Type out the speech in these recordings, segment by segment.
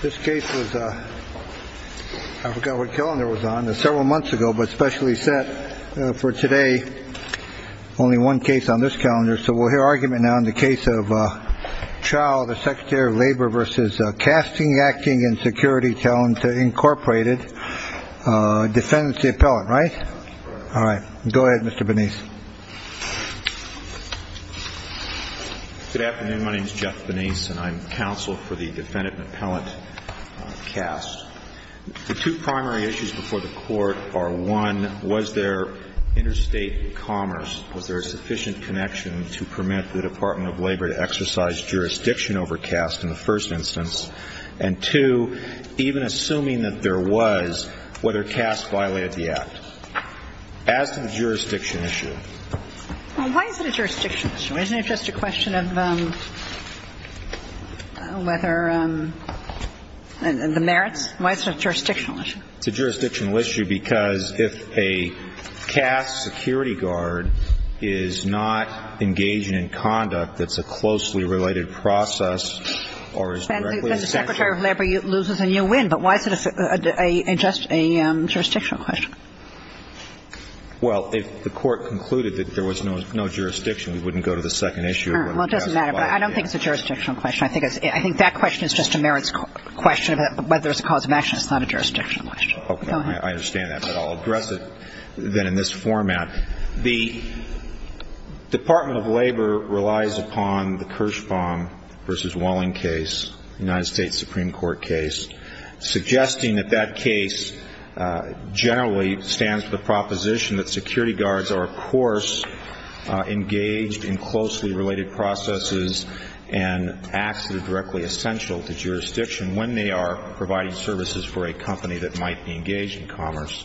This case was, I forgot what calendar it was on, several months ago, but specially set for today. Only one case on this calendar, so we'll hear argument now in the case of Chao, the Secretary of Labor v. Casing, Acting & Security Talent, Incorporated. Defendant's the appellant, right? All right. Go ahead, Mr. Benes. Good afternoon. My name is Jeff Benes, and I'm counsel for the defendant and appellant, CAST. The two primary issues before the Court are, one, was there interstate commerce? Was there a sufficient connection to permit the Department of Labor to exercise jurisdiction over CAST in the first instance? And, two, even assuming that there was, whether CAST violated the Act. As to the jurisdiction issue. Well, why is it a jurisdiction issue? Isn't it just a question of whether the merits? Why is it a jurisdictional issue? It's a jurisdictional issue because if a CAST security guard is not engaging in conduct that's a closely related process or is directly essential. Well, then the Secretary of Labor loses and you win, but why is it just a jurisdictional question? Well, if the Court concluded that there was no jurisdiction, we wouldn't go to the second issue. Well, it doesn't matter, but I don't think it's a jurisdictional question. I think that question is just a merits question of whether it's a cause of action. It's not a jurisdictional question. Okay. Go ahead. I understand that, but I'll address it then in this format. The Department of Labor relies upon the Kirschbaum v. Walling case, United States Supreme Court case, suggesting that that case generally stands for the proposition that security guards are, of course, engaged in closely related processes and acts that are directly essential to jurisdiction when they are providing services for a company that might be engaged in commerce.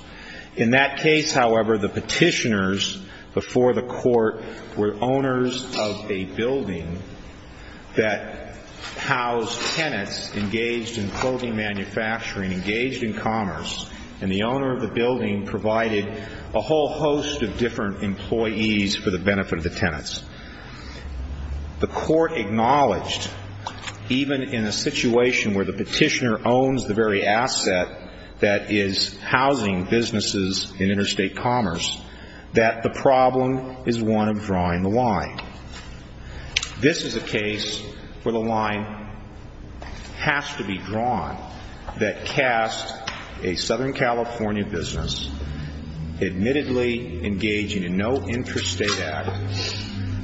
In that case, however, the petitioners before the Court were owners of a building that housed tenants engaged in clothing manufacturing, engaged in commerce, and the owner of the building provided a whole host of different employees for the benefit of the tenants. The Court acknowledged, even in a situation where the petitioner owns the very asset that is housing businesses in interstate commerce, that the problem is one of drawing the line. This is a case where the line has to be drawn that casts a Southern California business admittedly engaging in no interstate act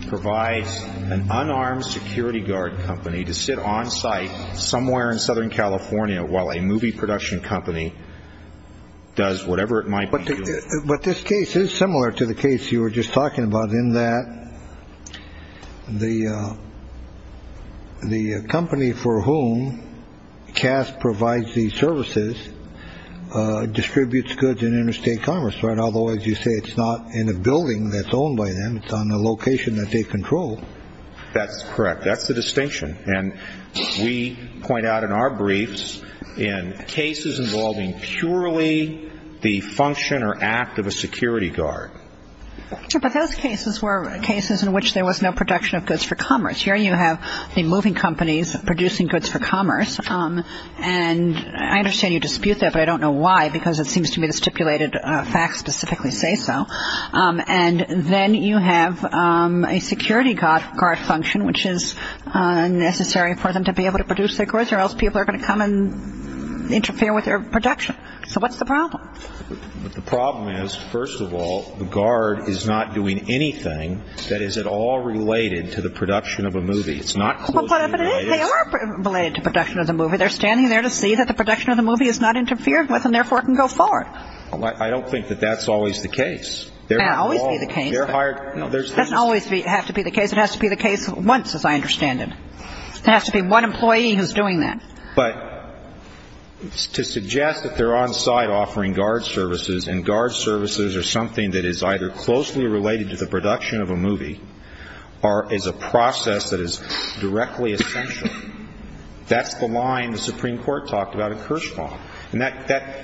provides an unarmed security guard company to sit on site somewhere in Southern California while a movie production company does whatever it might. But this case is similar to the case you were just talking about in that the the company for whom cast provides the services distributes goods in interstate commerce. Otherwise, you say it's not in a building that's owned by them. It's on a location that they control. That's correct. That's the distinction. And we point out in our briefs in cases involving purely the function or act of a security guard. But those cases were cases in which there was no production of goods for commerce. Here you have the moving companies producing goods for commerce. And I understand you dispute that, but I don't know why, because it seems to me the stipulated facts specifically say so. And then you have a security guard function, which is necessary for them to be able to produce their goods, or else people are going to come and interfere with their production. So what's the problem? The problem is, first of all, the guard is not doing anything that is at all related to the production of a movie. It's not closely related. They are related to production of the movie. They're standing there to see that the production of the movie is not interfered with and, therefore, can go forward. I don't think that that's always the case. It may not always be the case. It doesn't always have to be the case. It has to be the case once, as I understand it. It has to be one employee who's doing that. But to suggest that they're on site offering guard services, and guard services are something that is either closely related to the production of a movie or is a process that is directly essential, that's the line the Supreme Court talked about at Kirschbaum. And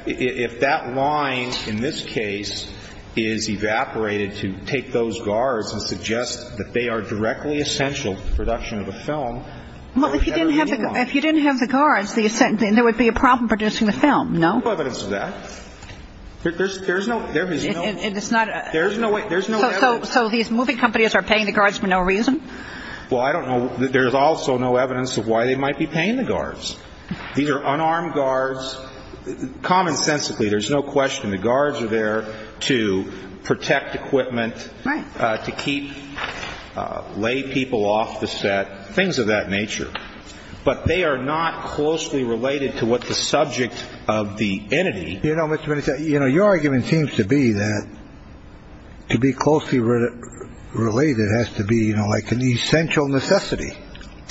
if that line, in this case, is evaporated to take those guards and suggest that they are directly essential to the production of a film, there's never going to be one. Well, if you didn't have the guards, there would be a problem producing the film, no? There's no evidence of that. There's no – there is no – And it's not a – There's no evidence. So these movie companies are paying the guards for no reason? Well, I don't know – there's also no evidence of why they might be paying the guards. These are unarmed guards. Common sensically, there's no question the guards are there to protect equipment, to keep – lay people off the set, things of that nature. But they are not closely related to what the subject of the entity. You know, Mr. Bennett, your argument seems to be that to be closely related has to be like an essential necessity.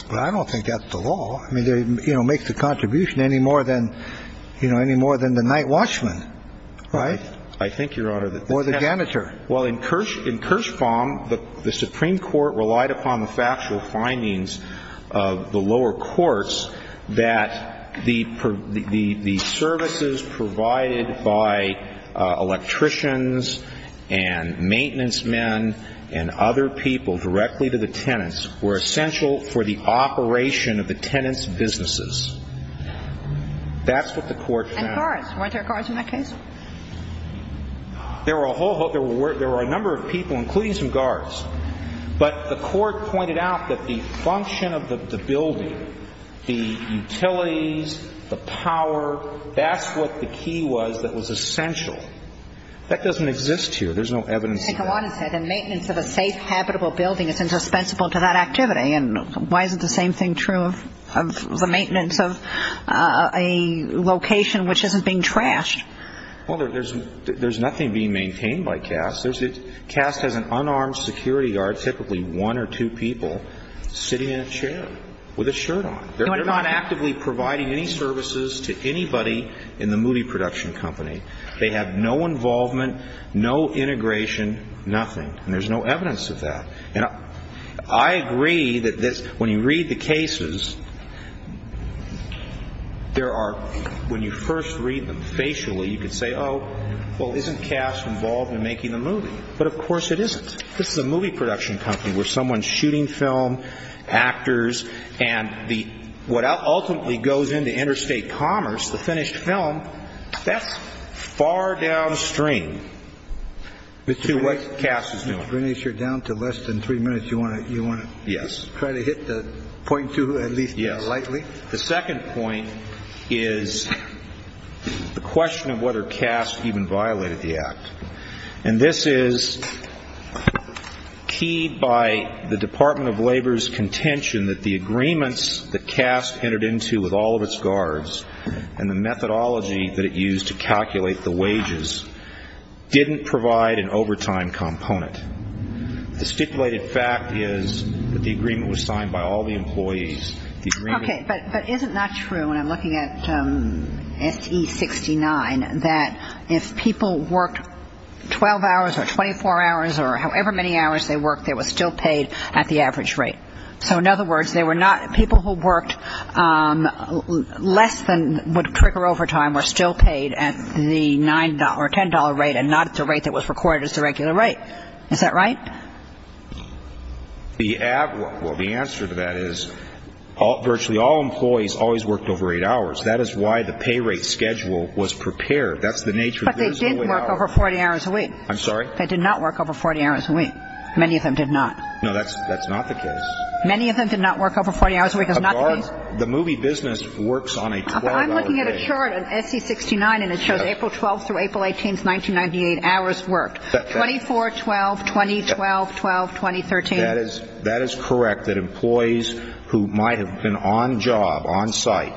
But I don't think that's the law. I mean, it makes a contribution any more than the night watchman, right? I think, Your Honor, that – Or the janitor. Well, in Kirschbaum, the Supreme Court relied upon the factual findings of the lower courts that the services provided by electricians and maintenance men and other people directly to the tenants were essential for the operation of the tenants' businesses. That's what the court found. And guards. Weren't there guards in that case? There were a whole – there were a number of people, including some guards. But the court pointed out that the function of the building, the utilities, the power, that's what the key was that was essential. That doesn't exist here. There's no evidence of that. But, Your Honor, the maintenance of a safe, habitable building is indispensable to that activity. And why isn't the same thing true of the maintenance of a location which isn't being trashed? Well, there's nothing being maintained by CAST. CAST has an unarmed security guard, typically one or two people, sitting in a chair with a shirt on. They're not actively providing any services to anybody in the movie production company. They have no involvement, no integration, nothing. And there's no evidence of that. And I agree that this – when you read the cases, there are – when you first read them facially, you could say, oh, well, isn't CAST involved in making the movie? But, of course, it isn't. This is a movie production company where someone's shooting film, actors, and what ultimately goes into interstate commerce, the finished film, that's far downstream to what CAST is doing. Mr. Greenish, you're down to less than three minutes. Do you want to try to hit the point, too, at least lightly? The second point is the question of whether CAST even violated the Act. And this is keyed by the Department of Labor's contention that the agreements that CAST entered into with all of its guards and the methodology that it used to calculate the wages didn't provide an overtime component. The stipulated fact is that the agreement was signed by all the employees. Okay. But is it not true, when I'm looking at S.E. 69, that if people worked 12 hours or 24 hours or however many hours they worked, they were still paid at the average rate? So, in other words, they were not – people who worked less than would trigger overtime were still paid at the $9 or $10 rate and not at the rate that was recorded as the regular rate. Is that right? The – well, the answer to that is virtually all employees always worked over eight hours. That is why the pay rate schedule was prepared. That's the nature of the – But they did work over 40 hours a week. I'm sorry? They did not work over 40 hours a week. Many of them did not. No, that's not the case. Many of them did not work over 40 hours a week. A guard – the movie business works on a $12 a day. I'm looking at a chart in S.E. 69, and it shows April 12th through April 18th, 1998, hours worked. 24, 12, 20, 12, 12, 20, 13. That is correct, that employees who might have been on job, on site,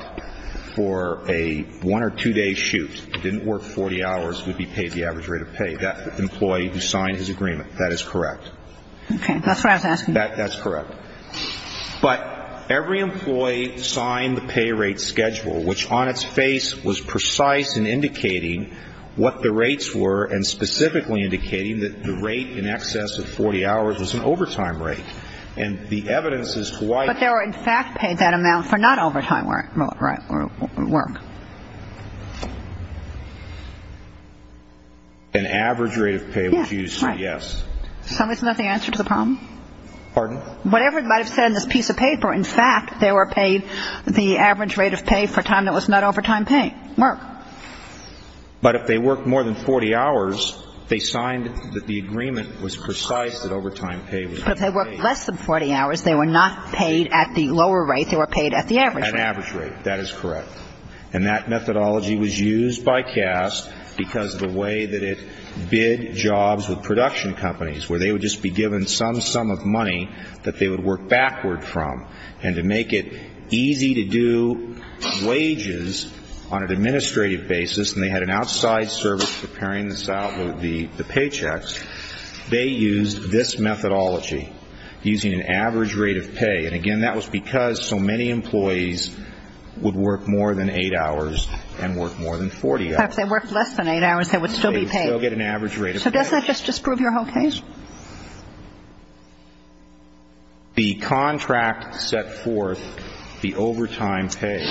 for a one- or two-day shoot, didn't work 40 hours, would be paid the average rate of pay. That employee who signed his agreement. That is correct. Okay. That's what I was asking. That's correct. But every employee signed the pay rate schedule, which on its face was precise in indicating what the rates were, and specifically indicating that the rate in excess of 40 hours was an overtime rate. And the evidence is quite – But they were, in fact, paid that amount for not-overtime work. An average rate of pay would you say, yes? Yes, right. So isn't that the answer to the problem? Pardon? Whatever it might have said in this piece of paper, in fact, they were paid the average rate of pay for time that was not overtime pay, work. But if they worked more than 40 hours, they signed that the agreement was precise that overtime pay would be paid. But if they worked less than 40 hours, they were not paid at the lower rate. They were paid at the average rate. At average rate. That is correct. And that methodology was used by CAST because of the way that it bid jobs with production companies, where they would just be given some sum of money that they would work backward from. And to make it easy to do wages on an administrative basis, and they had an outside service preparing the paychecks, they used this methodology using an average rate of pay. And, again, that was because so many employees would work more than eight hours and work more than 40 hours. But if they worked less than eight hours, they would still be paid. They would still get an average rate of pay. So doesn't that just disprove your whole case? The contract set forth the overtime pay.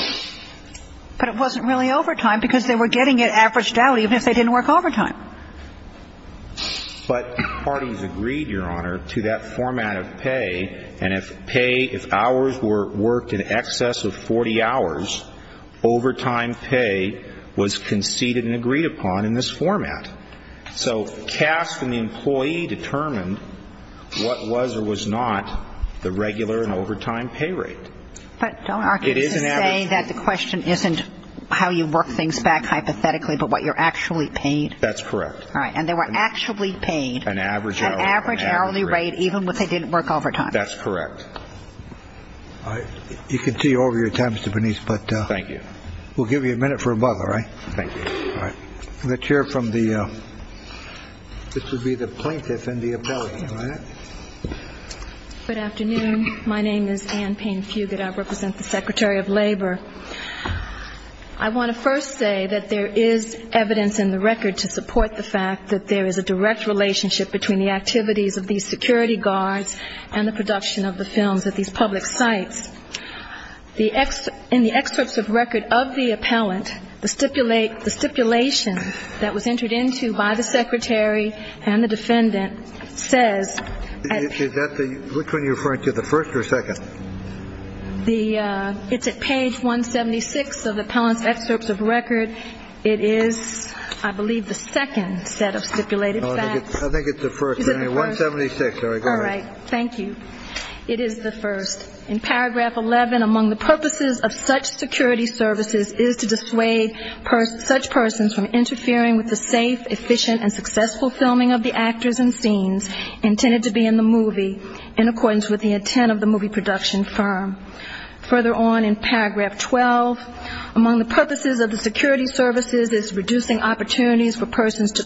But it wasn't really overtime because they were getting it averaged out even if they didn't work overtime. But parties agreed, Your Honor, to that format of pay. And if pay, if hours were worked in excess of 40 hours, overtime pay was conceded and agreed upon in this format. So CAST and the employee determined what was or was not the regular and overtime pay rate. But don't argue to say that the question isn't how you work things back hypothetically but what you're actually paid. That's correct. All right. And they were actually paid an average hourly rate even if they didn't work overtime. That's correct. All right. You can see over your time, Mr. Bernice, but we'll give you a minute for a bubble, all right? Thank you. All right. Let's hear from the plaintiff and the appellant, all right? Good afternoon. My name is Anne Payne Fugate. I represent the Secretary of Labor. I want to first say that there is evidence in the record to support the fact that there is a direct relationship between the activities of these security guards and the production of the films at these public sites. In the excerpts of record of the appellant, the stipulation that was entered into by the secretary and the defendant says at the – Which one are you referring to, the first or second? It's at page 176 of the appellant's excerpts of record. It is, I believe, the second set of stipulated facts. I think it's the first. 176. All right. Thank you. It is the first. In paragraph 11, among the purposes of such security services is to dissuade such persons from interfering with the safe, efficient, and successful filming of the actors and scenes intended to be in the movie, in accordance with the intent of the movie production firm. Further on in paragraph 12, among the purposes of the security services is reducing opportunities for persons to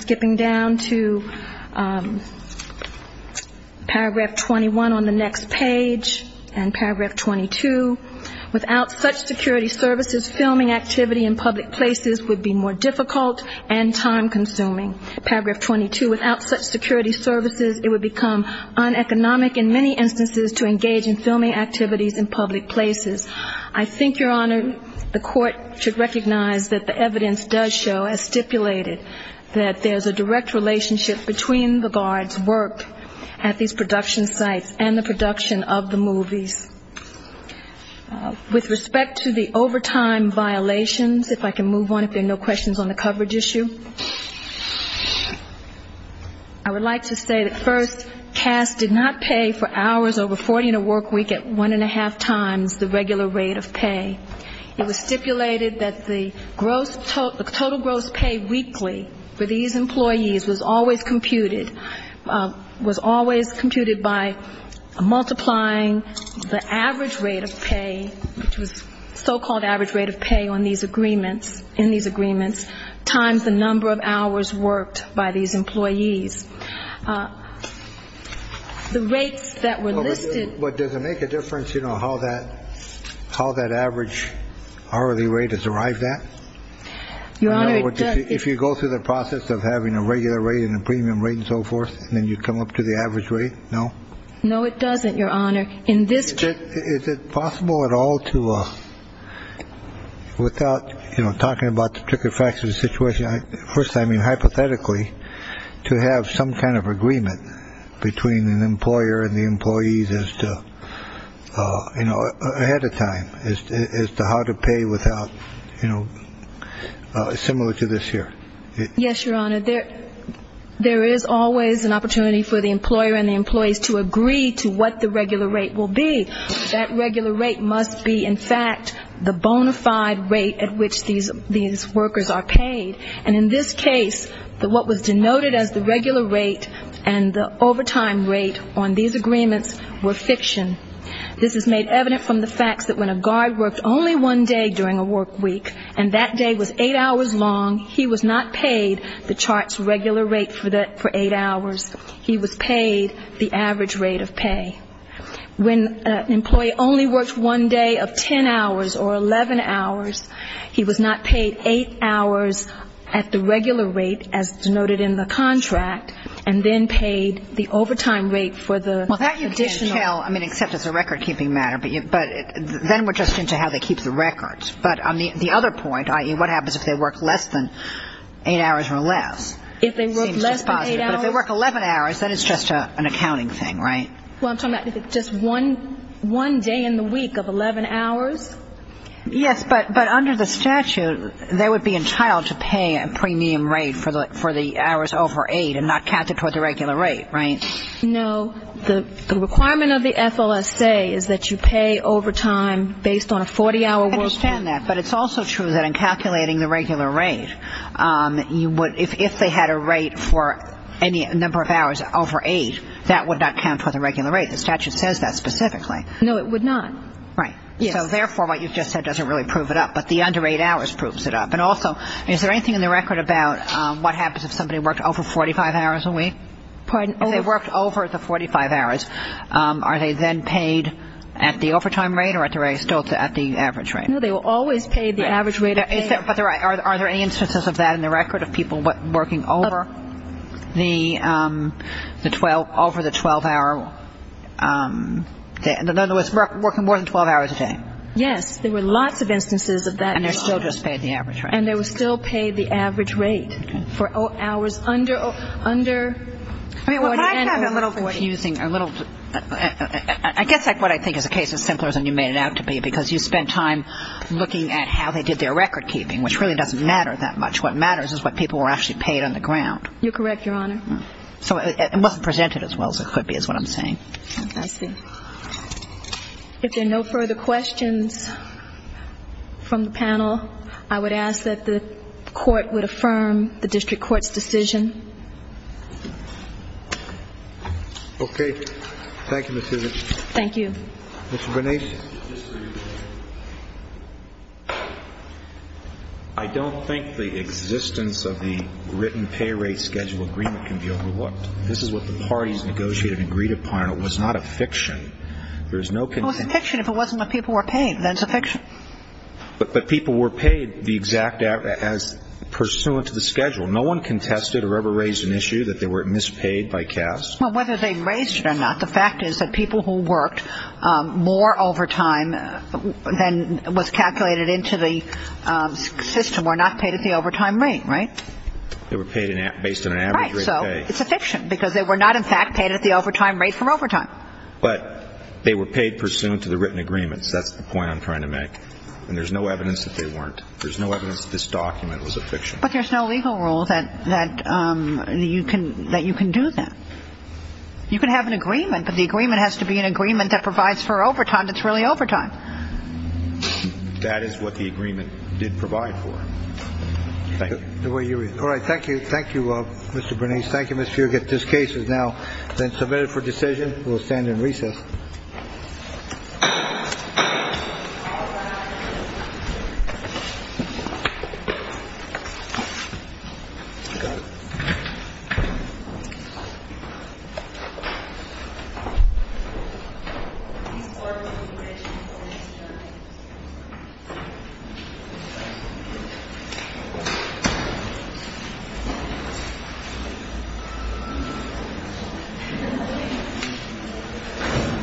skipping down to paragraph 21 on the next page and paragraph 22. Without such security services, filming activity in public places would be more difficult and time-consuming. Paragraph 22. Without such security services, it would become uneconomic in many instances to engage in filming activities in public places. I think, Your Honor, the court should recognize that the evidence does show, as stipulated, that there's a direct relationship between the guards' work at these production sites and the production of the movies. With respect to the overtime violations, if I can move on, if there are no questions on the coverage issue, I would like to say that first, did not pay for hours over 40 in a work week at one-and-a-half times the regular rate of pay. It was stipulated that the gross, the total gross pay weekly for these employees was always computed, was always computed by multiplying the average rate of pay, which was so-called average rate of pay on these agreements, in these agreements, times the number of hours worked by these employees. The rates that were listed. But does it make a difference, you know, how that how that average hourly rate has arrived at? Your Honor, it does. If you go through the process of having a regular rate and a premium rate and so forth, and then you come up to the average rate, no? No, it doesn't, Your Honor. In this case. Is it possible at all to, without, you know, talking about the tricky facts of the situation, first, I mean, hypothetically, to have some kind of agreement between an employer and the employees as to, you know, ahead of time as to how to pay without, you know, similar to this here? Yes, Your Honor. There there is always an opportunity for the employer and the employees to agree to what the regular rate will be. That regular rate must be, in fact, the bona fide rate at which these workers are paid. And in this case, what was denoted as the regular rate and the overtime rate on these agreements were fiction. This is made evident from the facts that when a guard worked only one day during a work week, and that day was eight hours long, he was not paid the chart's regular rate for eight hours. He was paid the average rate of pay. When an employee only worked one day of 10 hours or 11 hours, he was not paid eight hours at the regular rate as denoted in the contract, and then paid the overtime rate for the additional. Well, that you can't tell, I mean, except it's a record-keeping matter. But then we're just into how they keep the records. But the other point, i.e., what happens if they work less than eight hours or less? If they work less than eight hours. But if they work 11 hours, then it's just an accounting thing, right? Well, I'm talking about if it's just one day in the week of 11 hours. Yes, but under the statute, they would be entitled to pay a premium rate for the hours over eight and not count it toward the regular rate, right? No. The requirement of the FLSA is that you pay overtime based on a 40-hour work week. I understand that. But it's also true that in calculating the regular rate, if they had a rate for any number of hours over eight, that would not count for the regular rate. The statute says that specifically. No, it would not. Right. So, therefore, what you've just said doesn't really prove it up. But the under eight hours proves it up. And also, is there anything in the record about what happens if somebody worked over 45 hours a week? Pardon? If they worked over the 45 hours, are they then paid at the overtime rate or still at the average rate? No, they were always paid the average rate. But are there any instances of that in the record, of people working over the 12-hour day? In other words, working more than 12 hours a day? Yes. There were lots of instances of that. And they're still just paid the average rate. And they were still paid the average rate for hours under 40 and over 40. I guess what I think is the case is simpler than you made it out to be, because you spent time looking at how they did their record keeping, which really doesn't matter that much. What matters is what people were actually paid on the ground. You're correct, Your Honor. So it wasn't presented as well as it could be is what I'm saying. I see. If there are no further questions from the panel, I would ask that the court would affirm the district court's decision. Okay. Thank you, Ms. Susan. Thank you. Mr. Bernays? I don't think the existence of the written pay rate schedule agreement can be overlooked. This is what the parties negotiated and agreed upon. It was not a fiction. It was a fiction if it wasn't what people were paid. Then it's a fiction. But people were paid the exact amount as pursuant to the schedule. No one contested or ever raised an issue that they were mispaid by CAS. Well, whether they raised it or not, the fact is that people who worked more overtime than was calculated into the system were not paid at the overtime rate, right? They were paid based on an average rate of pay. Right. So it's a fiction because they were not, in fact, paid at the overtime rate for overtime. But they were paid pursuant to the written agreements. That's the point I'm trying to make. And there's no evidence that they weren't. There's no evidence that this document was a fiction. But there's no legal rule that you can do that. You can have an agreement, but the agreement has to be an agreement that provides for overtime that's really overtime. That is what the agreement did provide for. All right. Thank you. Thank you, Mr. Bernice. Thank you, Mr. Fugate. This case is now then submitted for decision. We'll stand in recess. Thank you.